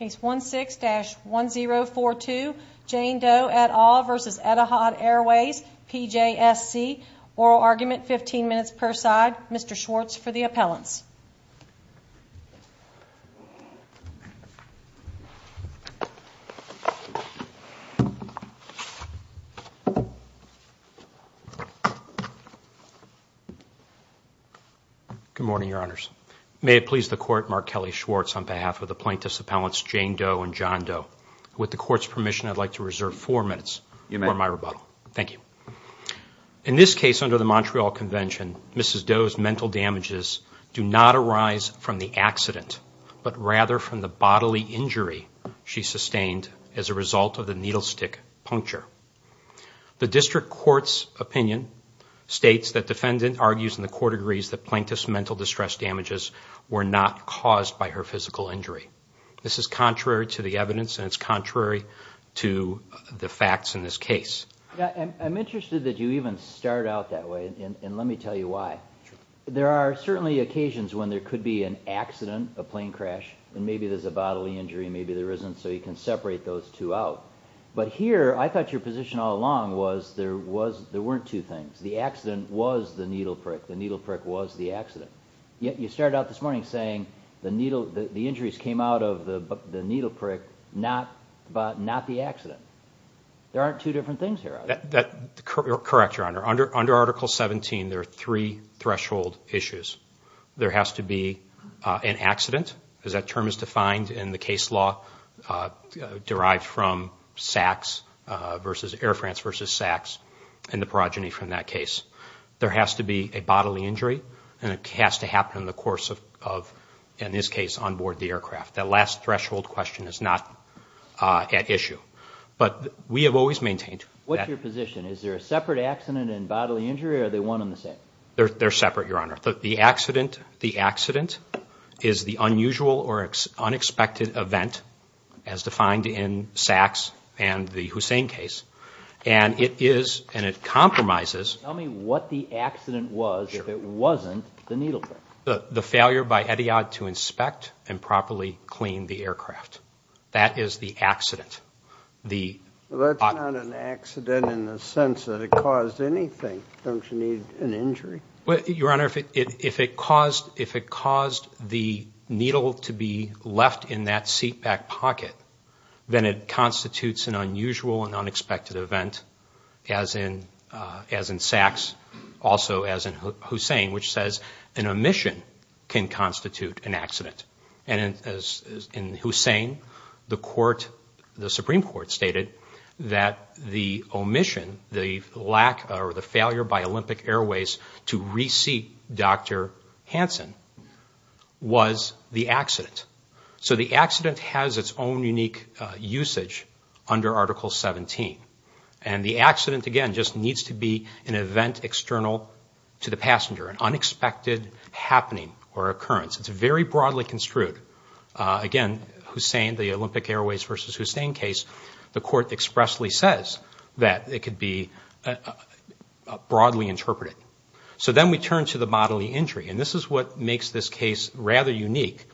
Case 16-1042 Jane Doe et al. v. Etihad Airways PJSC Oral argument, 15 minutes per side. Mr. Schwartz for the appellants. Good morning, Your Honors. May it please the Court, Mark Kelly Schwartz on behalf of the plaintiffs' appellants Jane Doe and John Doe. With the Court's permission, I'd like to reserve four minutes for my rebuttal. Thank you. In this case under the Montreal Convention, Mrs. Doe's mental damages do not arise from the accident, but rather from the bodily injury she sustained as a result of the needle stick puncture. The District Court's opinion states that defendant argues and the Court agrees that plaintiff's mental distress damages were not caused by her physical injury. This is contrary to the evidence and it's contrary to the facts in this case. I'm interested that you even start out that way and let me tell you why. There are certainly occasions when there could be an accident, a plane crash, and maybe there's a bodily injury and maybe there isn't, so you can separate those two out. But here, I thought your position all along was there weren't two things. The accident was the needle prick. The needle prick was the accident. You started out this morning saying the injuries came out of the needle prick, but not the accident. There aren't two different things here, are there? Correct, Your Honor. Under Article 17, there are three threshold issues. There has to be an accident, as that term is defined in the case law derived from Air France v. Saks and the progeny from that case. There has to be a bodily injury and it has to happen in the course of, in this case, onboard the aircraft. That last threshold question is not at issue, but we have always maintained that. What's your position? Is there a separate accident and bodily injury or are they one and the same? They're separate, Your Honor. The accident is the unusual or unexpected event as defined in Saks and the Hussein case. Tell me what the accident was that wasn't the needle prick. The failure by Etihad to inspect and properly clean the aircraft. That is the accident. That's not an accident in the sense that it caused anything. Don't you need an injury? Your Honor, if it caused the needle to be left in that seatback pocket, then it constitutes an unusual and unexpected event, as in Saks, also as in Hussein, which says an omission can constitute an accident. And as in Hussein, the Supreme Court stated that the omission, the lack or the failure by Olympic Airways to reseat Dr. Hansen was the accident. So the accident has its own unique usage under Article 17. And the accident, again, just needs to be an event external to the passenger, an unexpected happening or occurrence. It's very broadly construed. Again, Hussein, the Olympic Airways versus Hussein case, the court expressly says that it could be broadly interpreted. So then we turn to the bodily injury. And this is what makes this case rather unique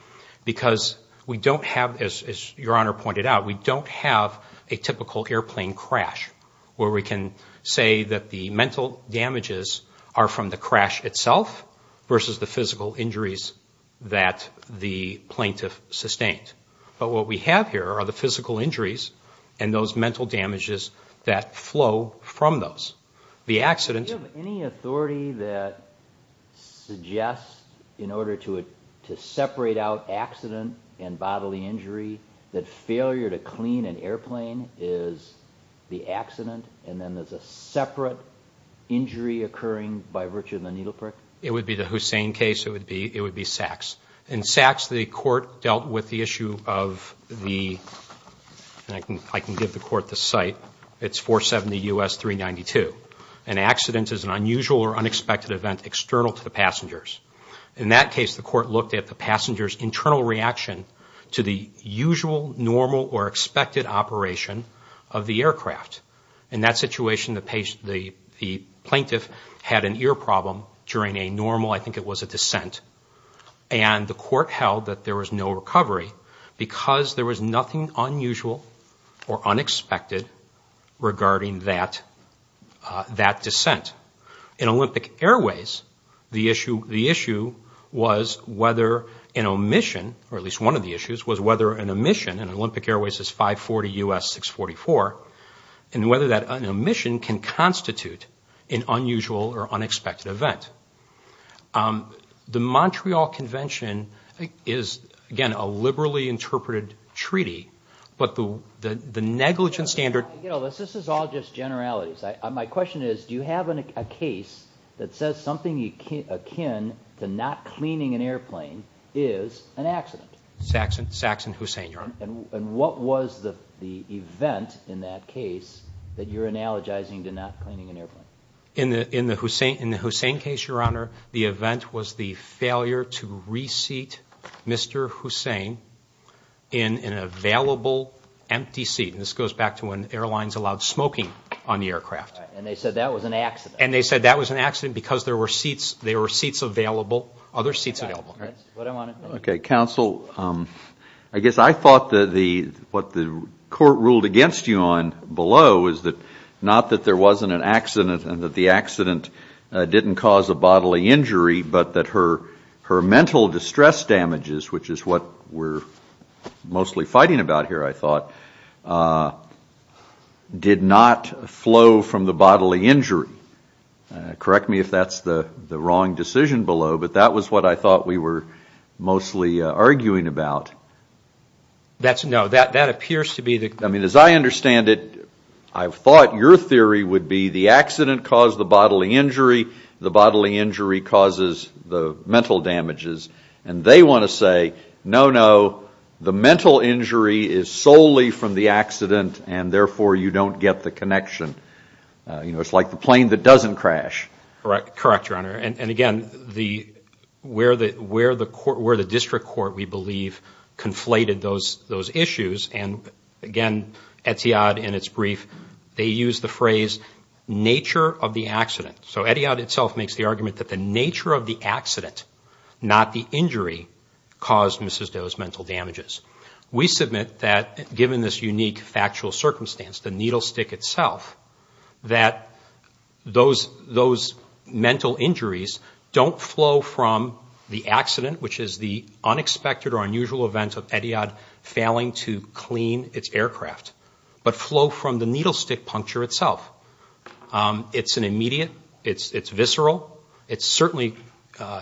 because we don't have, as Your Honor pointed out, we don't have a typical airplane crash where we can say that the mental damages are from the crash itself versus the physical injuries that the plaintiff sustained. But what we have here are the physical injuries and those mental damages that flow from those. Do you have any authority that suggests, in order to separate out accident and bodily injury, that failure to clean an airplane is the accident and then there's a separate injury occurring by virtue of the needle prick? It would be the Hussein case. It would be Saks. In Saks, the court dealt with the issue of the, and I can give the court the site, it's 470 U.S. 392. An accident is an unusual or unexpected event external to the passengers. In that case, the court looked at the passenger's internal reaction to the usual, normal, or expected operation of the aircraft. In that situation, the plaintiff had an ear problem during a normal, I think it was a descent. And the court held that there was no recovery because there was nothing unusual or unexpected regarding that descent. In Olympic Airways, the issue was whether an omission, or at least one of the issues, was whether an omission, and Olympic Airways is 540 U.S. 644, and whether that omission can constitute an unusual or unexpected event. The Montreal Convention is, again, a liberally interpreted treaty, but the negligent standard... This is all just generalities. My question is, do you have a case that says something akin to not cleaning an airplane is an accident? Saks and Hussein, Your Honor. And what was the event in that case that you're analogizing to not cleaning an airplane? In the Hussein case, Your Honor, the event was the failure to reseat Mr. Hussein in an available empty seat. And this goes back to when airlines allowed smoking on the aircraft. And they said that was an accident. And they said that was an accident because there were seats available, other seats available. Okay, counsel, I guess I thought that what the court ruled against you on below was not that there wasn't an accident and that the accident didn't cause a bodily injury, but that her mental distress damages, which is what we're mostly fighting about here, I thought, did not flow from the bodily injury. Correct me if that's the wrong decision below, but that was what I thought we were mostly arguing about. No, that appears to be the... damages, and they want to say, no, no, the mental injury is solely from the accident and, therefore, you don't get the connection. You know, it's like the plane that doesn't crash. Correct, Your Honor. And, again, where the district court, we believe, conflated those issues, and, again, Etiade, in its brief, they use the phrase nature of the accident. So Etiade itself makes the argument that the nature of the accident, not the injury, caused Mrs. Doe's mental damages. We submit that, given this unique factual circumstance, the needle stick itself, that those mental injuries don't flow from the accident, which is the unexpected or unusual event of Etiade failing to clean its aircraft, but flow from the needle stick puncture itself. It's an immediate, it's visceral, it certainly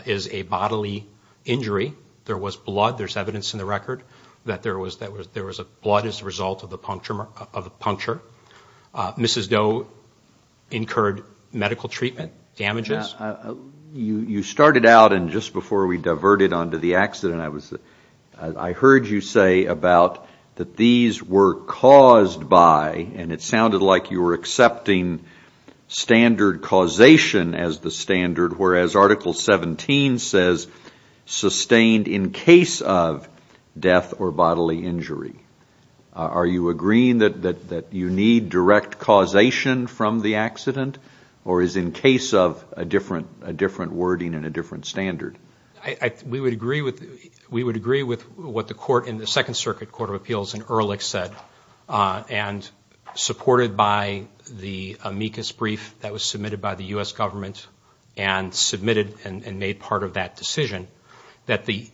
is a bodily injury. There was blood. There's evidence in the record that there was a blood as a result of the puncture. Mrs. Doe incurred medical treatment damages. You started out, and just before we diverted onto the accident, I heard you say about that these were caused by, and it sounded like you were accepting standard causation as the standard, whereas Article 17 says sustained in case of death or bodily injury. Are you agreeing that you need direct causation from the accident, or is in case of a different wording and a different standard? We would agree with what the court in the Second Circuit Court of Appeals in Ehrlich said, and supported by the amicus brief that was submitted by the U.S. government and submitted and made part of that decision, that the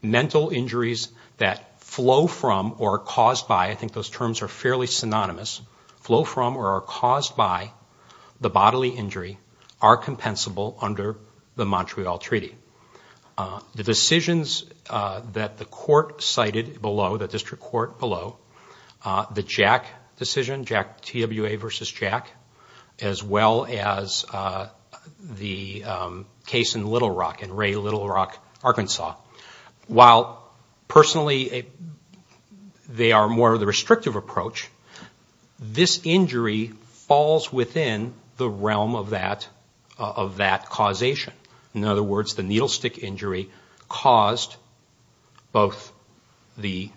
mental injuries that flow from or are caused by, I think those terms are fairly synonymous, flow from or are caused by the bodily injury are compensable under the Montreal Treaty. The decisions that the court cited below, the district court below, the Jack decision, Jack TWA versus Jack, as well as the case in Little Rock, in Ray Little Rock, Arkansas, while personally they are more of the restrictive approach, this injury falls within the realm of that causation. In other words, the needle stick injury caused both the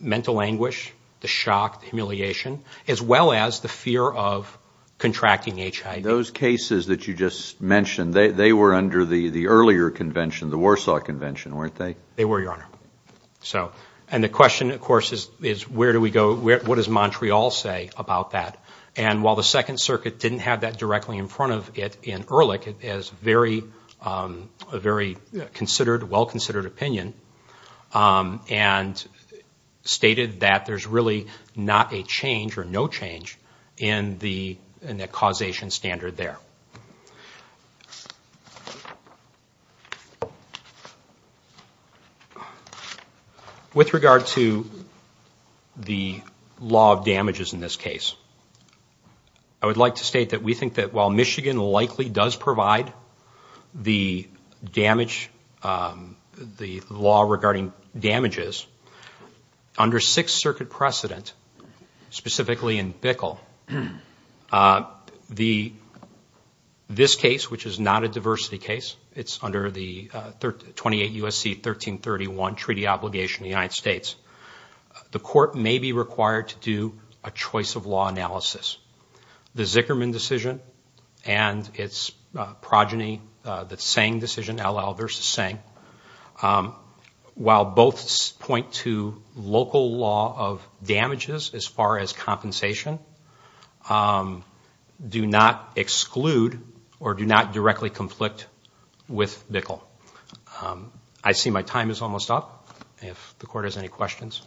mental anguish, the shock, the humiliation, as well as the fear of contracting HIV. Those cases that you just mentioned, they were under the earlier convention, the Warsaw Convention, weren't they? They were, Your Honor. And the question, of course, is where do we go, what does Montreal say about that? And while the Second Circuit didn't have that directly in front of it in Ehrlich, the Second Circuit has a very considered, well-considered opinion, and stated that there's really not a change or no change in the causation standard there. With regard to the law of damages in this case, I would like to state that we think that while Michigan likely does provide the law regarding damages, under Sixth Circuit precedent, specifically in Bickle, this case, which is not a diversity case, it's under the 28 U.S.C. 1331 Treaty Obligation of the United States, the court may be required to do a choice of law analysis. The Zickerman decision and its progeny, the Tseng decision, L.L. versus Tseng, while both point to local law of damages as far as compensation, do not exclude or do not directly conflict with Bickle. I see my time is almost up. If the court has any questions.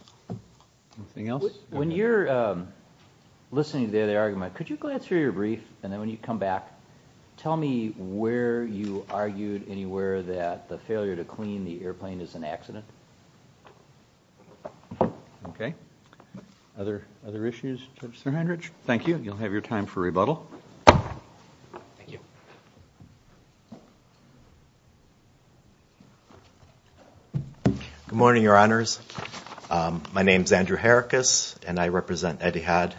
Anything else? When you're listening to the other argument, could you go ahead through your brief, and then when you come back, tell me where you argued anywhere that the failure to clean the airplane is an accident? Okay. Other issues, Judge Sirhenridge? Thank you. You'll have your time for rebuttal. Thank you. Good morning, Your Honors. My name is Andrew Hericus, and I represent Etihad.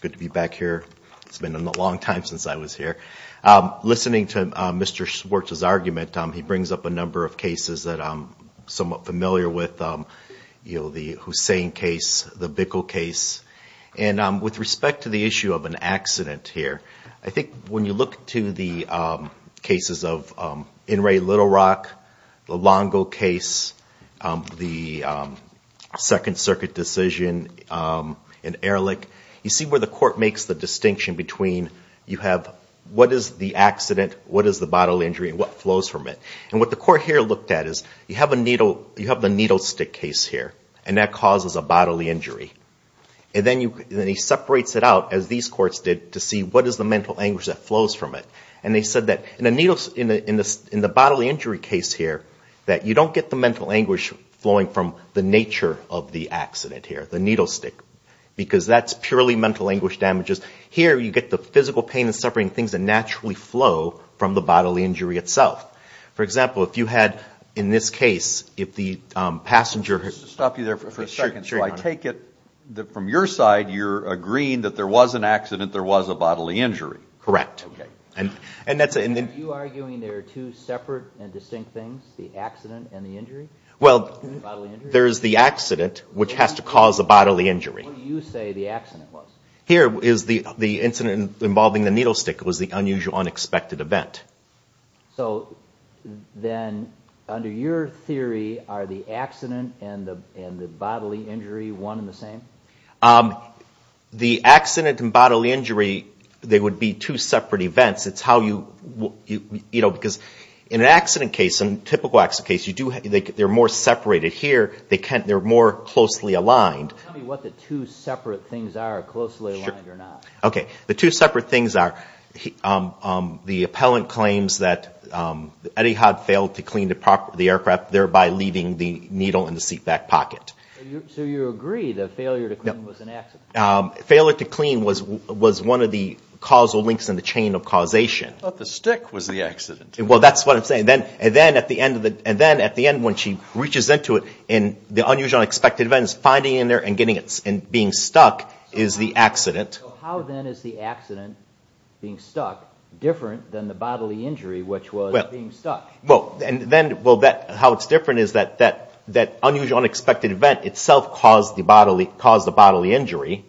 Good to be back here. It's been a long time since I was here. Listening to Mr. Schwartz's argument, he brings up a number of cases that I'm somewhat familiar with. You know, the Hussein case, the Bickle case. And with respect to the issue of an accident here, I think when you look to the cases of In re Little Rock, the Longo case, the Second Circuit decision in Ehrlich, you see where the court makes the distinction between you have what is the accident, what is the bodily injury, and what flows from it. And what the court here looked at is you have the needle stick case here, and that causes a bodily injury. And then he separates it out, as these courts did, to see what is the mental anguish that flows from it. And they said that in the bodily injury case here, that you don't get the mental anguish flowing from the nature of the accident here, the needle stick, because that's purely mental anguish damages. Here, you get the physical pain and suffering, things that naturally flow from the bodily injury itself. For example, if you had, in this case, if the passenger... From your side, you're agreeing that there was an accident, there was a bodily injury. Correct. Are you arguing there are two separate and distinct things, the accident and the injury? Well, there's the accident, which has to cause a bodily injury. What do you say the accident was? Here, the incident involving the needle stick was the unusual, unexpected event. So then, under your theory, are the accident and the bodily injury one and the same? The accident and bodily injury, they would be two separate events. It's how you... Because in an accident case, in a typical accident case, they're more separated. Here, they're more closely aligned. Tell me what the two separate things are, closely aligned or not. Okay, the two separate things are the appellant claims that Etihad failed to clean the aircraft, thereby leaving the needle in the seatback pocket. So you agree that failure to clean was an accident? Failure to clean was one of the causal links in the chain of causation. I thought the stick was the accident. Well, that's what I'm saying. And then, at the end, when she reaches into it, the unusual, unexpected event is finding it in there and being stuck is the accident. How, then, is the accident, being stuck, different than the bodily injury, which was being stuck? Well, how it's different is that that unusual, unexpected event itself caused the bodily injury.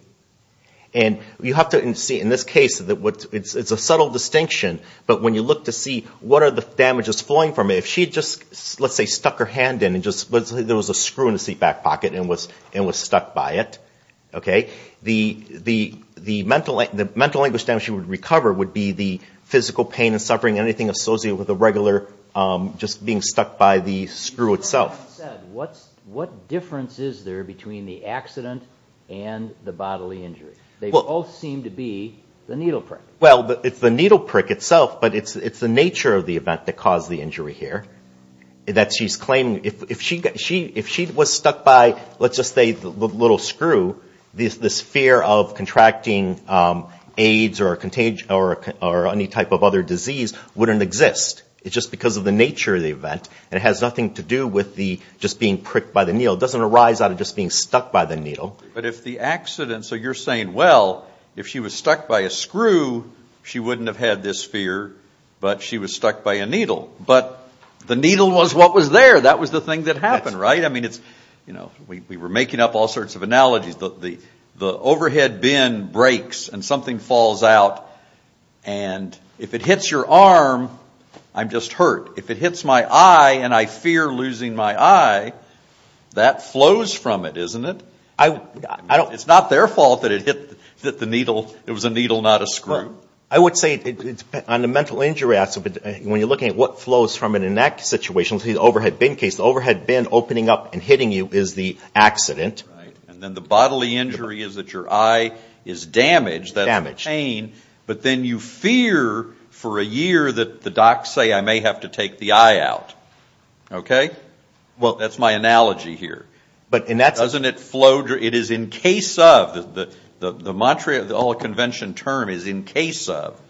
And you have to see, in this case, it's a subtle distinction. But when you look to see what are the damages flowing from it, if she just, let's say, stuck her hand in and there was a screw in the seatback pocket and was stuck by it, the mental anguish damage she would recover would be the physical pain and suffering and anything associated with the regular just being stuck by the screw itself. You said, what difference is there between the accident and the bodily injury? They both seem to be the needle prick. Well, it's the needle prick itself, but it's the nature of the event that caused the injury here. That she's claiming, if she was stuck by, let's just say, the little screw, this fear of contracting AIDS or any type of other disease wouldn't exist. It's just because of the nature of the event, and it has nothing to do with just being pricked by the needle. It doesn't arise out of just being stuck by the needle. But if the accident, so you're saying, well, if she was stuck by a screw, she wouldn't have had this fear, but she was stuck by a needle. But the needle was what was there. That was the thing that happened, right? I mean, we were making up all sorts of analogies. The overhead bin breaks and something falls out, and if it hits your arm, I'm just hurt. If it hits my eye and I fear losing my eye, that flows from it, isn't it? It's not their fault that it hit the needle. It was a needle, not a screw. I would say on the mental injury aspect, when you're looking at what flows from it in that situation, let's say the overhead bin case, the overhead bin opening up and hitting you is the accident. Right. And then the bodily injury is that your eye is damaged. That's pain. But then you fear for a year that the docs say I may have to take the eye out. Okay? Well, that's my analogy here. Doesn't it flow? It is in case of. The mantra, the old convention term is in case of.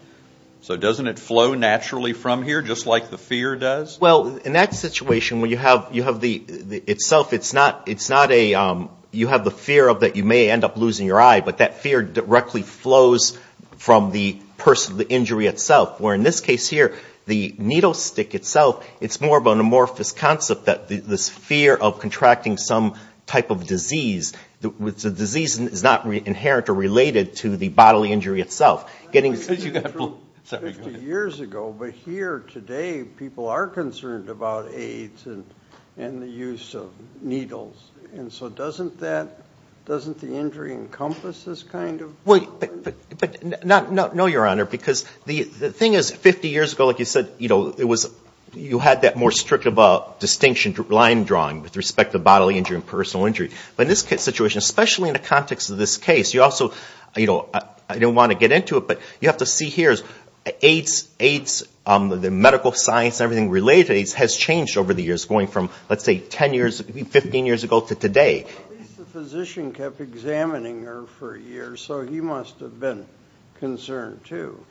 So doesn't it flow naturally from here, just like the fear does? Well, in that situation, when you have the itself, it's not a you have the fear of that you may end up losing your eye, but that fear directly flows from the person, the injury itself, where in this case here, the needle stick itself, it's more of an amorphous concept that this fear of contracting some type of disease, which the disease is not inherent or related to the bodily injury itself. You got it. 50 years ago, but here today, people are concerned about AIDS and the use of needles. And so doesn't that, doesn't the injury encompass this kind of? No, Your Honor, because the thing is 50 years ago, like you said, you know, it was you had that more strict distinction, line drawing with respect to bodily injury and personal injury. But in this situation, especially in the context of this case, you also, you know, I don't want to get into it, but you have to see here is AIDS, the medical science, everything related to AIDS has changed over the years, going from, let's say, 10 years, 15 years ago to today. At least the physician kept examining her for a year, so he must have been concerned, too.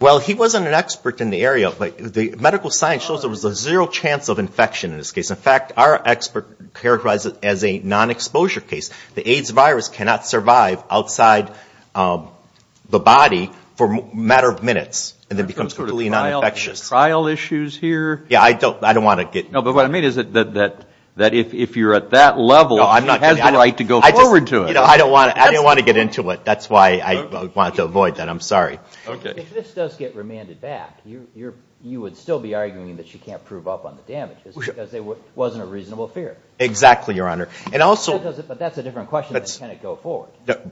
Well, he wasn't an expert in the area, but the medical science shows there was a zero chance of infection in this case. In fact, our expert characterized it as a non-exposure case. The AIDS virus cannot survive outside the body for a matter of minutes and then becomes completely non-infectious. Are there some sort of trial issues here? Yeah, I don't want to get into it. No, but what I mean is that if you're at that level, he has the right to go forward to it. You know, I don't want to get into it. That's why I wanted to avoid that. I'm sorry. Okay. If this does get remanded back, you would still be arguing that she can't prove up on the damages because it wasn't a reasonable fear. Exactly, Your Honor. But that's a different question than can it go forward.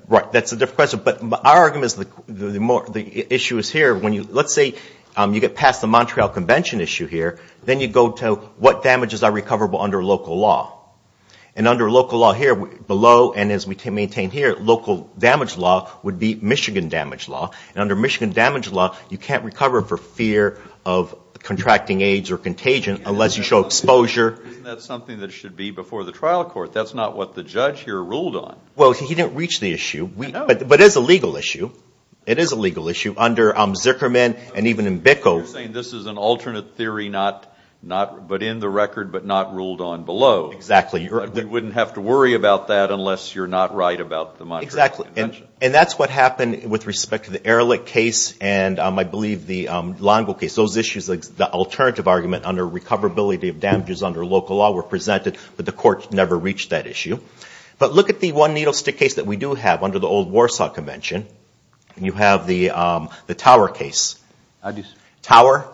Right. That's a different question. But our argument is the issue is here. Let's say you get past the Montreal Convention issue here. Then you go to what damages are recoverable under local law. And under local law here below and as we maintain here, local damage law would be Michigan damage law. And under Michigan damage law, you can't recover for fear of contracting AIDS or contagion unless you show exposure. Isn't that something that should be before the trial court? That's not what the judge here ruled on. Well, he didn't reach the issue. I know. But it is a legal issue. It is a legal issue under Zuckerman and even in Bickel. You're saying this is an alternate theory but in the record but not ruled on below. Exactly. You wouldn't have to worry about that unless you're not right about the Montreal Convention. Exactly. And that's what happened with respect to the Ehrlich case and I believe the Langel case. Those issues, the alternative argument under recoverability of damages under local law were presented, but the court never reached that issue. But look at the one-needle stick case that we do have under the old Warsaw Convention. You have the Tower case. Tower?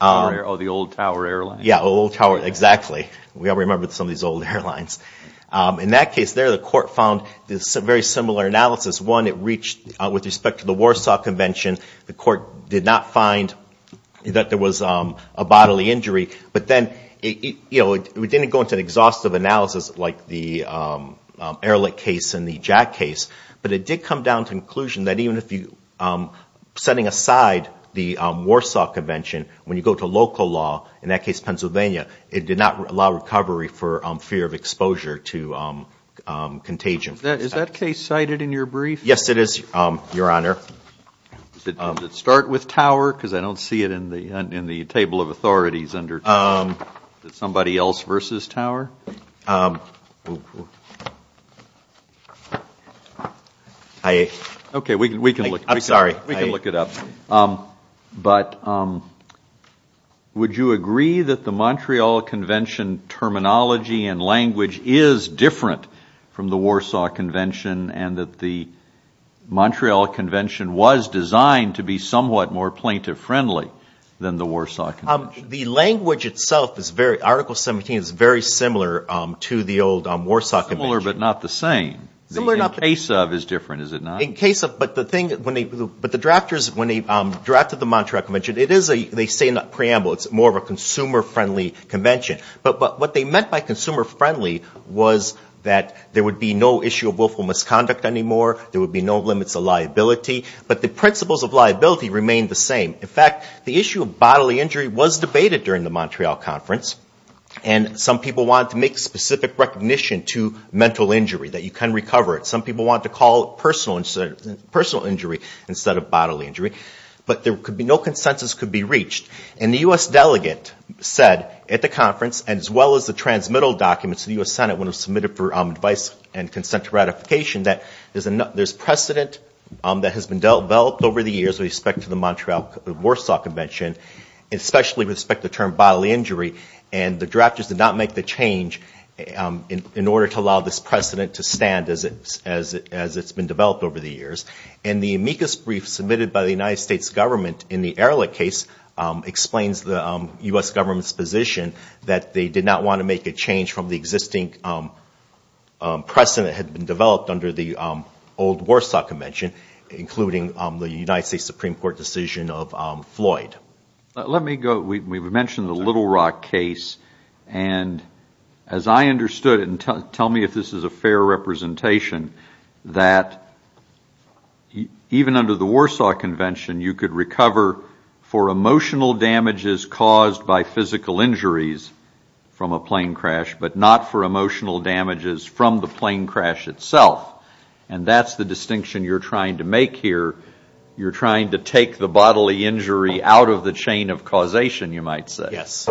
Tower. Oh, the old Tower airline. Yeah, old Tower. Exactly. We all remember some of these old airlines. In that case there, the court found this very similar analysis. One, it reached with respect to the Warsaw Convention. The court did not find that there was a bodily injury. But then it didn't go into an exhaustive analysis like the Ehrlich case and the Jack case, but it did come down to the conclusion that even if you're setting aside the Warsaw Convention, when you go to local law, in that case Pennsylvania, it did not allow recovery for fear of exposure to contagion. Is that case cited in your brief? Yes, it is, Your Honor. Does it start with Tower? Because I don't see it in the table of authorities under Tower. Is it somebody else versus Tower? Okay, we can look it up. But would you agree that the Montreal Convention terminology and language is different from the Warsaw Convention and that the Montreal Convention was designed to be somewhat more plaintiff-friendly than the Warsaw Convention? The language itself, Article 17, is very similar to the old Warsaw Convention. Similar but not the same. Similar but not the same. The in case of is different, is it not? In case of, but the thing, but the drafters, when they drafted the Montreal Convention, they say in the preamble it's more of a consumer-friendly convention. But what they meant by consumer-friendly was that there would be no issue of willful misconduct anymore. There would be no limits of liability. But the principles of liability remain the same. In fact, the issue of bodily injury was debated during the Montreal Conference. And some people wanted to make specific recognition to mental injury, that you can recover it. Some people wanted to call it personal injury instead of bodily injury. But there could be no consensus could be reached. And the U.S. delegate said at the conference, as well as the transmittal documents, the U.S. Senate would have submitted for advice and consent to ratification, that there's precedent that has been developed over the years with respect to the Montreal-Warsaw Convention, especially with respect to the term bodily injury. And the drafters did not make the change in order to allow this precedent to stand as it's been developed over the years. And the amicus brief submitted by the United States government in the Ehrlich case explains the U.S. government's position that they did not want to make a change from the existing precedent that had been developed under the old Warsaw Convention, including the United States Supreme Court decision of Floyd. Let me go, we've mentioned the Little Rock case, and as I understood it, and tell me if this is a fair representation, that even under the Warsaw Convention, you could recover for emotional damages caused by physical injuries from a plane crash, but not for emotional damages from the plane crash itself. And that's the distinction you're trying to make here. You're trying to take the bodily injury out of the chain of causation, you might say. Yes,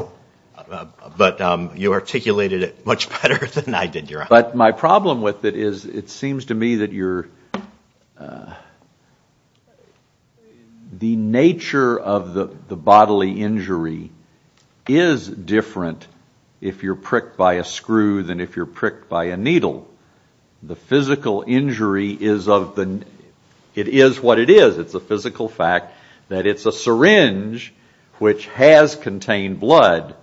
but you articulated it much better than I did, Your Honor. But my problem with it is, it seems to me that the nature of the bodily injury is different if you're pricked by a screw than if you're pricked by a needle. So the physical injury is of the, it is what it is. It's a physical fact that it's a syringe which has contained blood.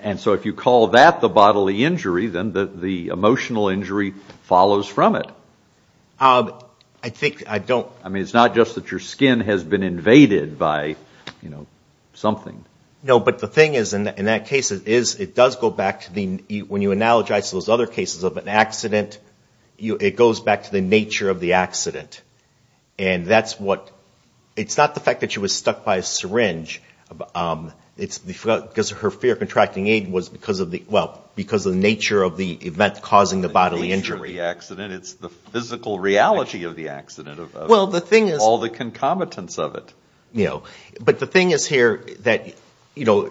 And so if you call that the bodily injury, then the emotional injury follows from it. I think I don't. I mean, it's not just that your skin has been invaded by, you know, something. No, but the thing is, in that case, it does go back to the, when you analogize those other cases of an accident, it goes back to the nature of the accident. And that's what, it's not the fact that she was stuck by a syringe, it's because her fear of contracting AIDS was because of the, well, because of the nature of the event causing the bodily injury. The nature of the accident, it's the physical reality of the accident, of all the concomitants of it. But the thing is here that, you know,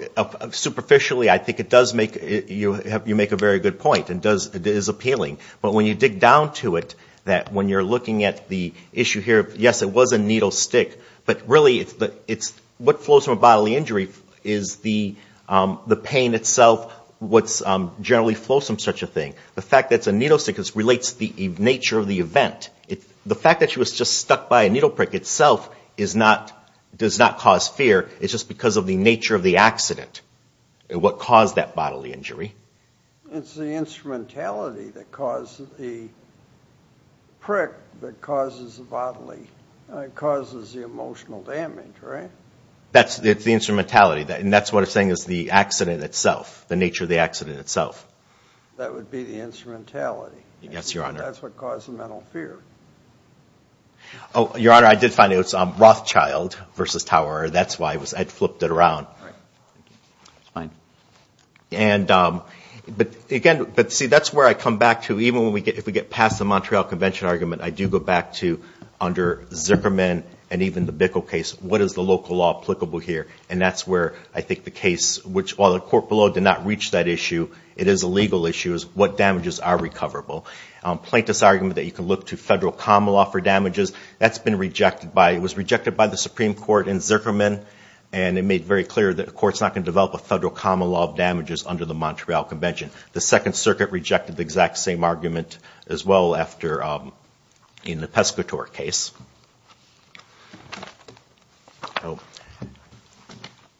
superficially I think it does make, you make a very good point and it is appealing. But when you dig down to it, that when you're looking at the issue here, yes, it was a needle stick, but really it's what flows from a bodily injury is the pain itself, what generally flows from such a thing. The fact that it's a needle stick relates to the nature of the event. The fact that she was just stuck by a needle prick itself is not, does not cause fear. It's just because of the nature of the accident, what caused that bodily injury. It's the instrumentality that caused the prick that causes the bodily, causes the emotional damage, right? That's the instrumentality. And that's what I'm saying is the accident itself, the nature of the accident itself. Yes, Your Honor. That's what caused the mental fear. Oh, Your Honor, I did find it was Rothschild versus Tower. That's why I flipped it around. Right. It's fine. And, but again, but see, that's where I come back to, even if we get past the Montreal Convention argument, I do go back to under Zuckerman and even the Bickel case, what is the local law applicable here? And that's where I think the case, which while the court below did not reach that issue, it is a legal issue is what damages are recoverable. Plaintiff's argument that you can look to federal common law for damages, that's been rejected by, it was rejected by the Supreme Court in Zuckerman, and it made very clear that the court's not going to develop a federal common law of damages under the Montreal Convention. The Second Circuit rejected the exact same argument as well after, in the Pescatore case.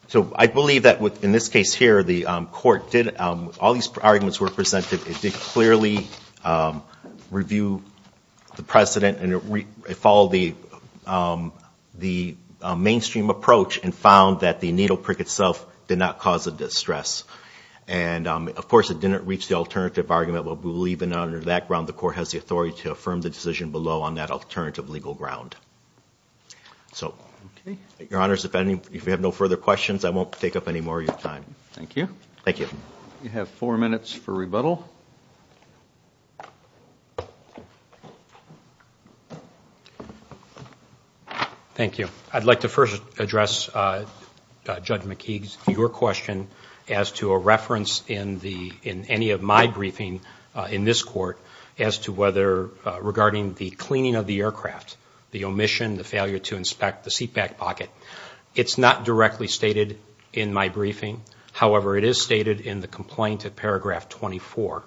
So I believe that in this case here, the court did, all these arguments were presented, it did clearly review the precedent and it followed the mainstream approach and found that the needle prick itself did not cause a distress. And, of course, it didn't reach the alternative argument, but we believe that under that ground, the court has the authority to affirm the decision below on that alternative legal ground. So, your honors, if you have no further questions, I won't take up any more of your time. Thank you. Thank you. We have four minutes for rebuttal. Thank you. I'd like to first address Judge McKeague's, your question, as to a reference in any of my briefing in this court as to whether, regarding the cleaning of the aircraft, the omission, the failure to inspect the seatback pocket. It's not directly stated in my briefing. However, it is stated in the complaint at paragraph 24.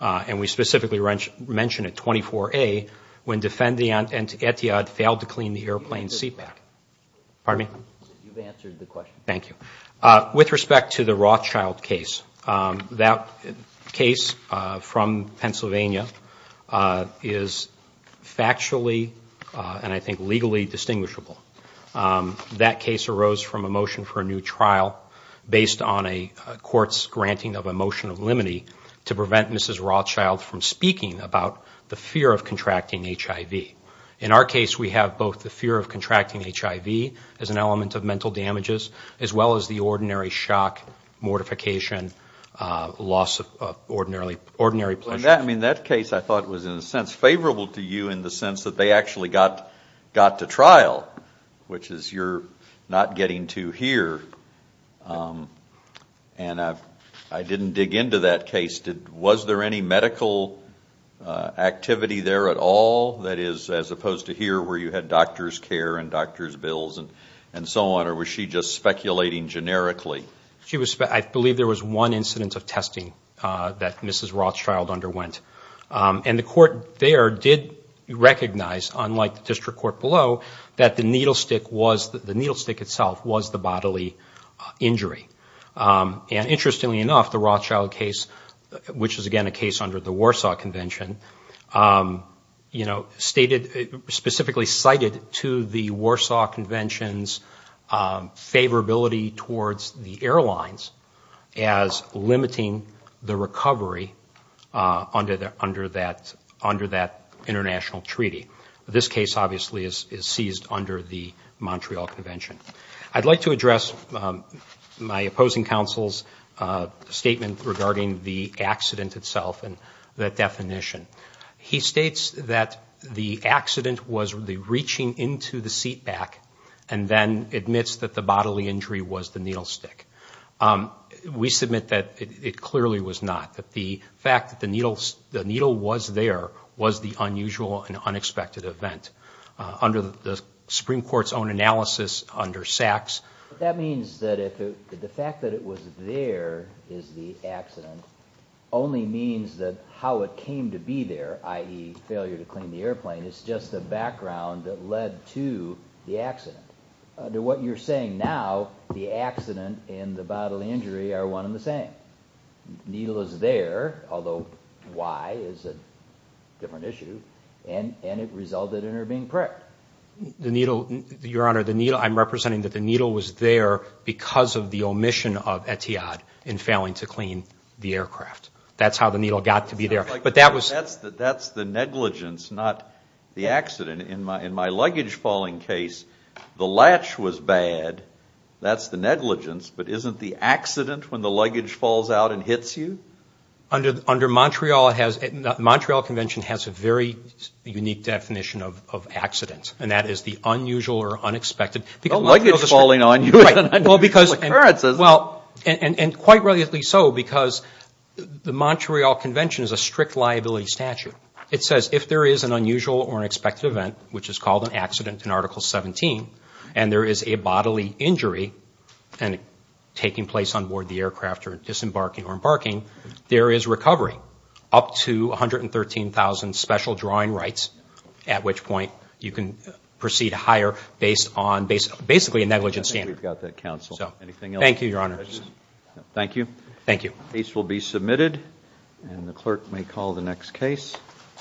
And we specifically mention at 24A, when defendant Etihad failed to clean the airplane seatback. Pardon me? You've answered the question. Thank you. With respect to the Rothschild case, that case from Pennsylvania is factually, and I think legally, distinguishable. That case arose from a motion for a new trial based on a court's granting of a motion of limine to prevent Mrs. Rothschild from speaking about the fear of contracting HIV. In our case, we have both the fear of contracting HIV as an element of mental damages, as well as the ordinary shock, mortification, loss of ordinary pleasure. I mean, that case I thought was in a sense favorable to you in the sense that they actually got to trial, which is you're not getting to here. And I didn't dig into that case. Was there any medical activity there at all, that is, as opposed to here where you had doctor's care and doctor's bills and so on, or was she just speculating generically? I believe there was one incident of testing that Mrs. Rothschild underwent. And the court there did recognize, unlike the district court below, that the needle stick was, the needle stick itself was the bodily injury. And interestingly enough, the Rothschild case, which is again a case under the Warsaw Convention, you know, stated, specifically cited to the Warsaw Convention's favorability towards the airlines as limiting the recovery under that international treaty. This case obviously is seized under the Montreal Convention. I'd like to address my opposing counsel's statement regarding the accident itself and that definition. He states that the accident was the reaching into the seat back, and then admits that the bodily injury was the needle stick. We submit that it clearly was not, that the fact that the needle was there was the unusual and unexpected event under the Supreme Court's own analysis under Sachs. That means that the fact that it was there, is the accident, only means that how it came to be there, i.e. failure to clean the airplane, is just the background that led to the accident. Under what you're saying now, the accident and the bodily injury are one and the same. The needle is there, although why is a different issue, and it resulted in her being pricked. The needle, Your Honor, the needle, I'm representing that the needle was there because of the omission of Etihad in failing to clean the aircraft. That's how the needle got to be there, but that was... That's the negligence, not the accident. In my luggage falling case, the latch was bad. That's the negligence, but isn't the accident when the luggage falls out and hits you? Under Montreal has, the Montreal Convention has a very unique definition of accident, and that is the unusual or unexpected... And quite rightly so, because the Montreal Convention is a strict liability statute. It says if there is an unusual or unexpected event, which is called an accident in Article 17, and there is a bodily injury taking place on board the aircraft or disembarking or embarking, there is recovery up to 113,000 special drawing rights, at which point you can proceed higher based on basically a negligence standard. Thank you, Your Honor.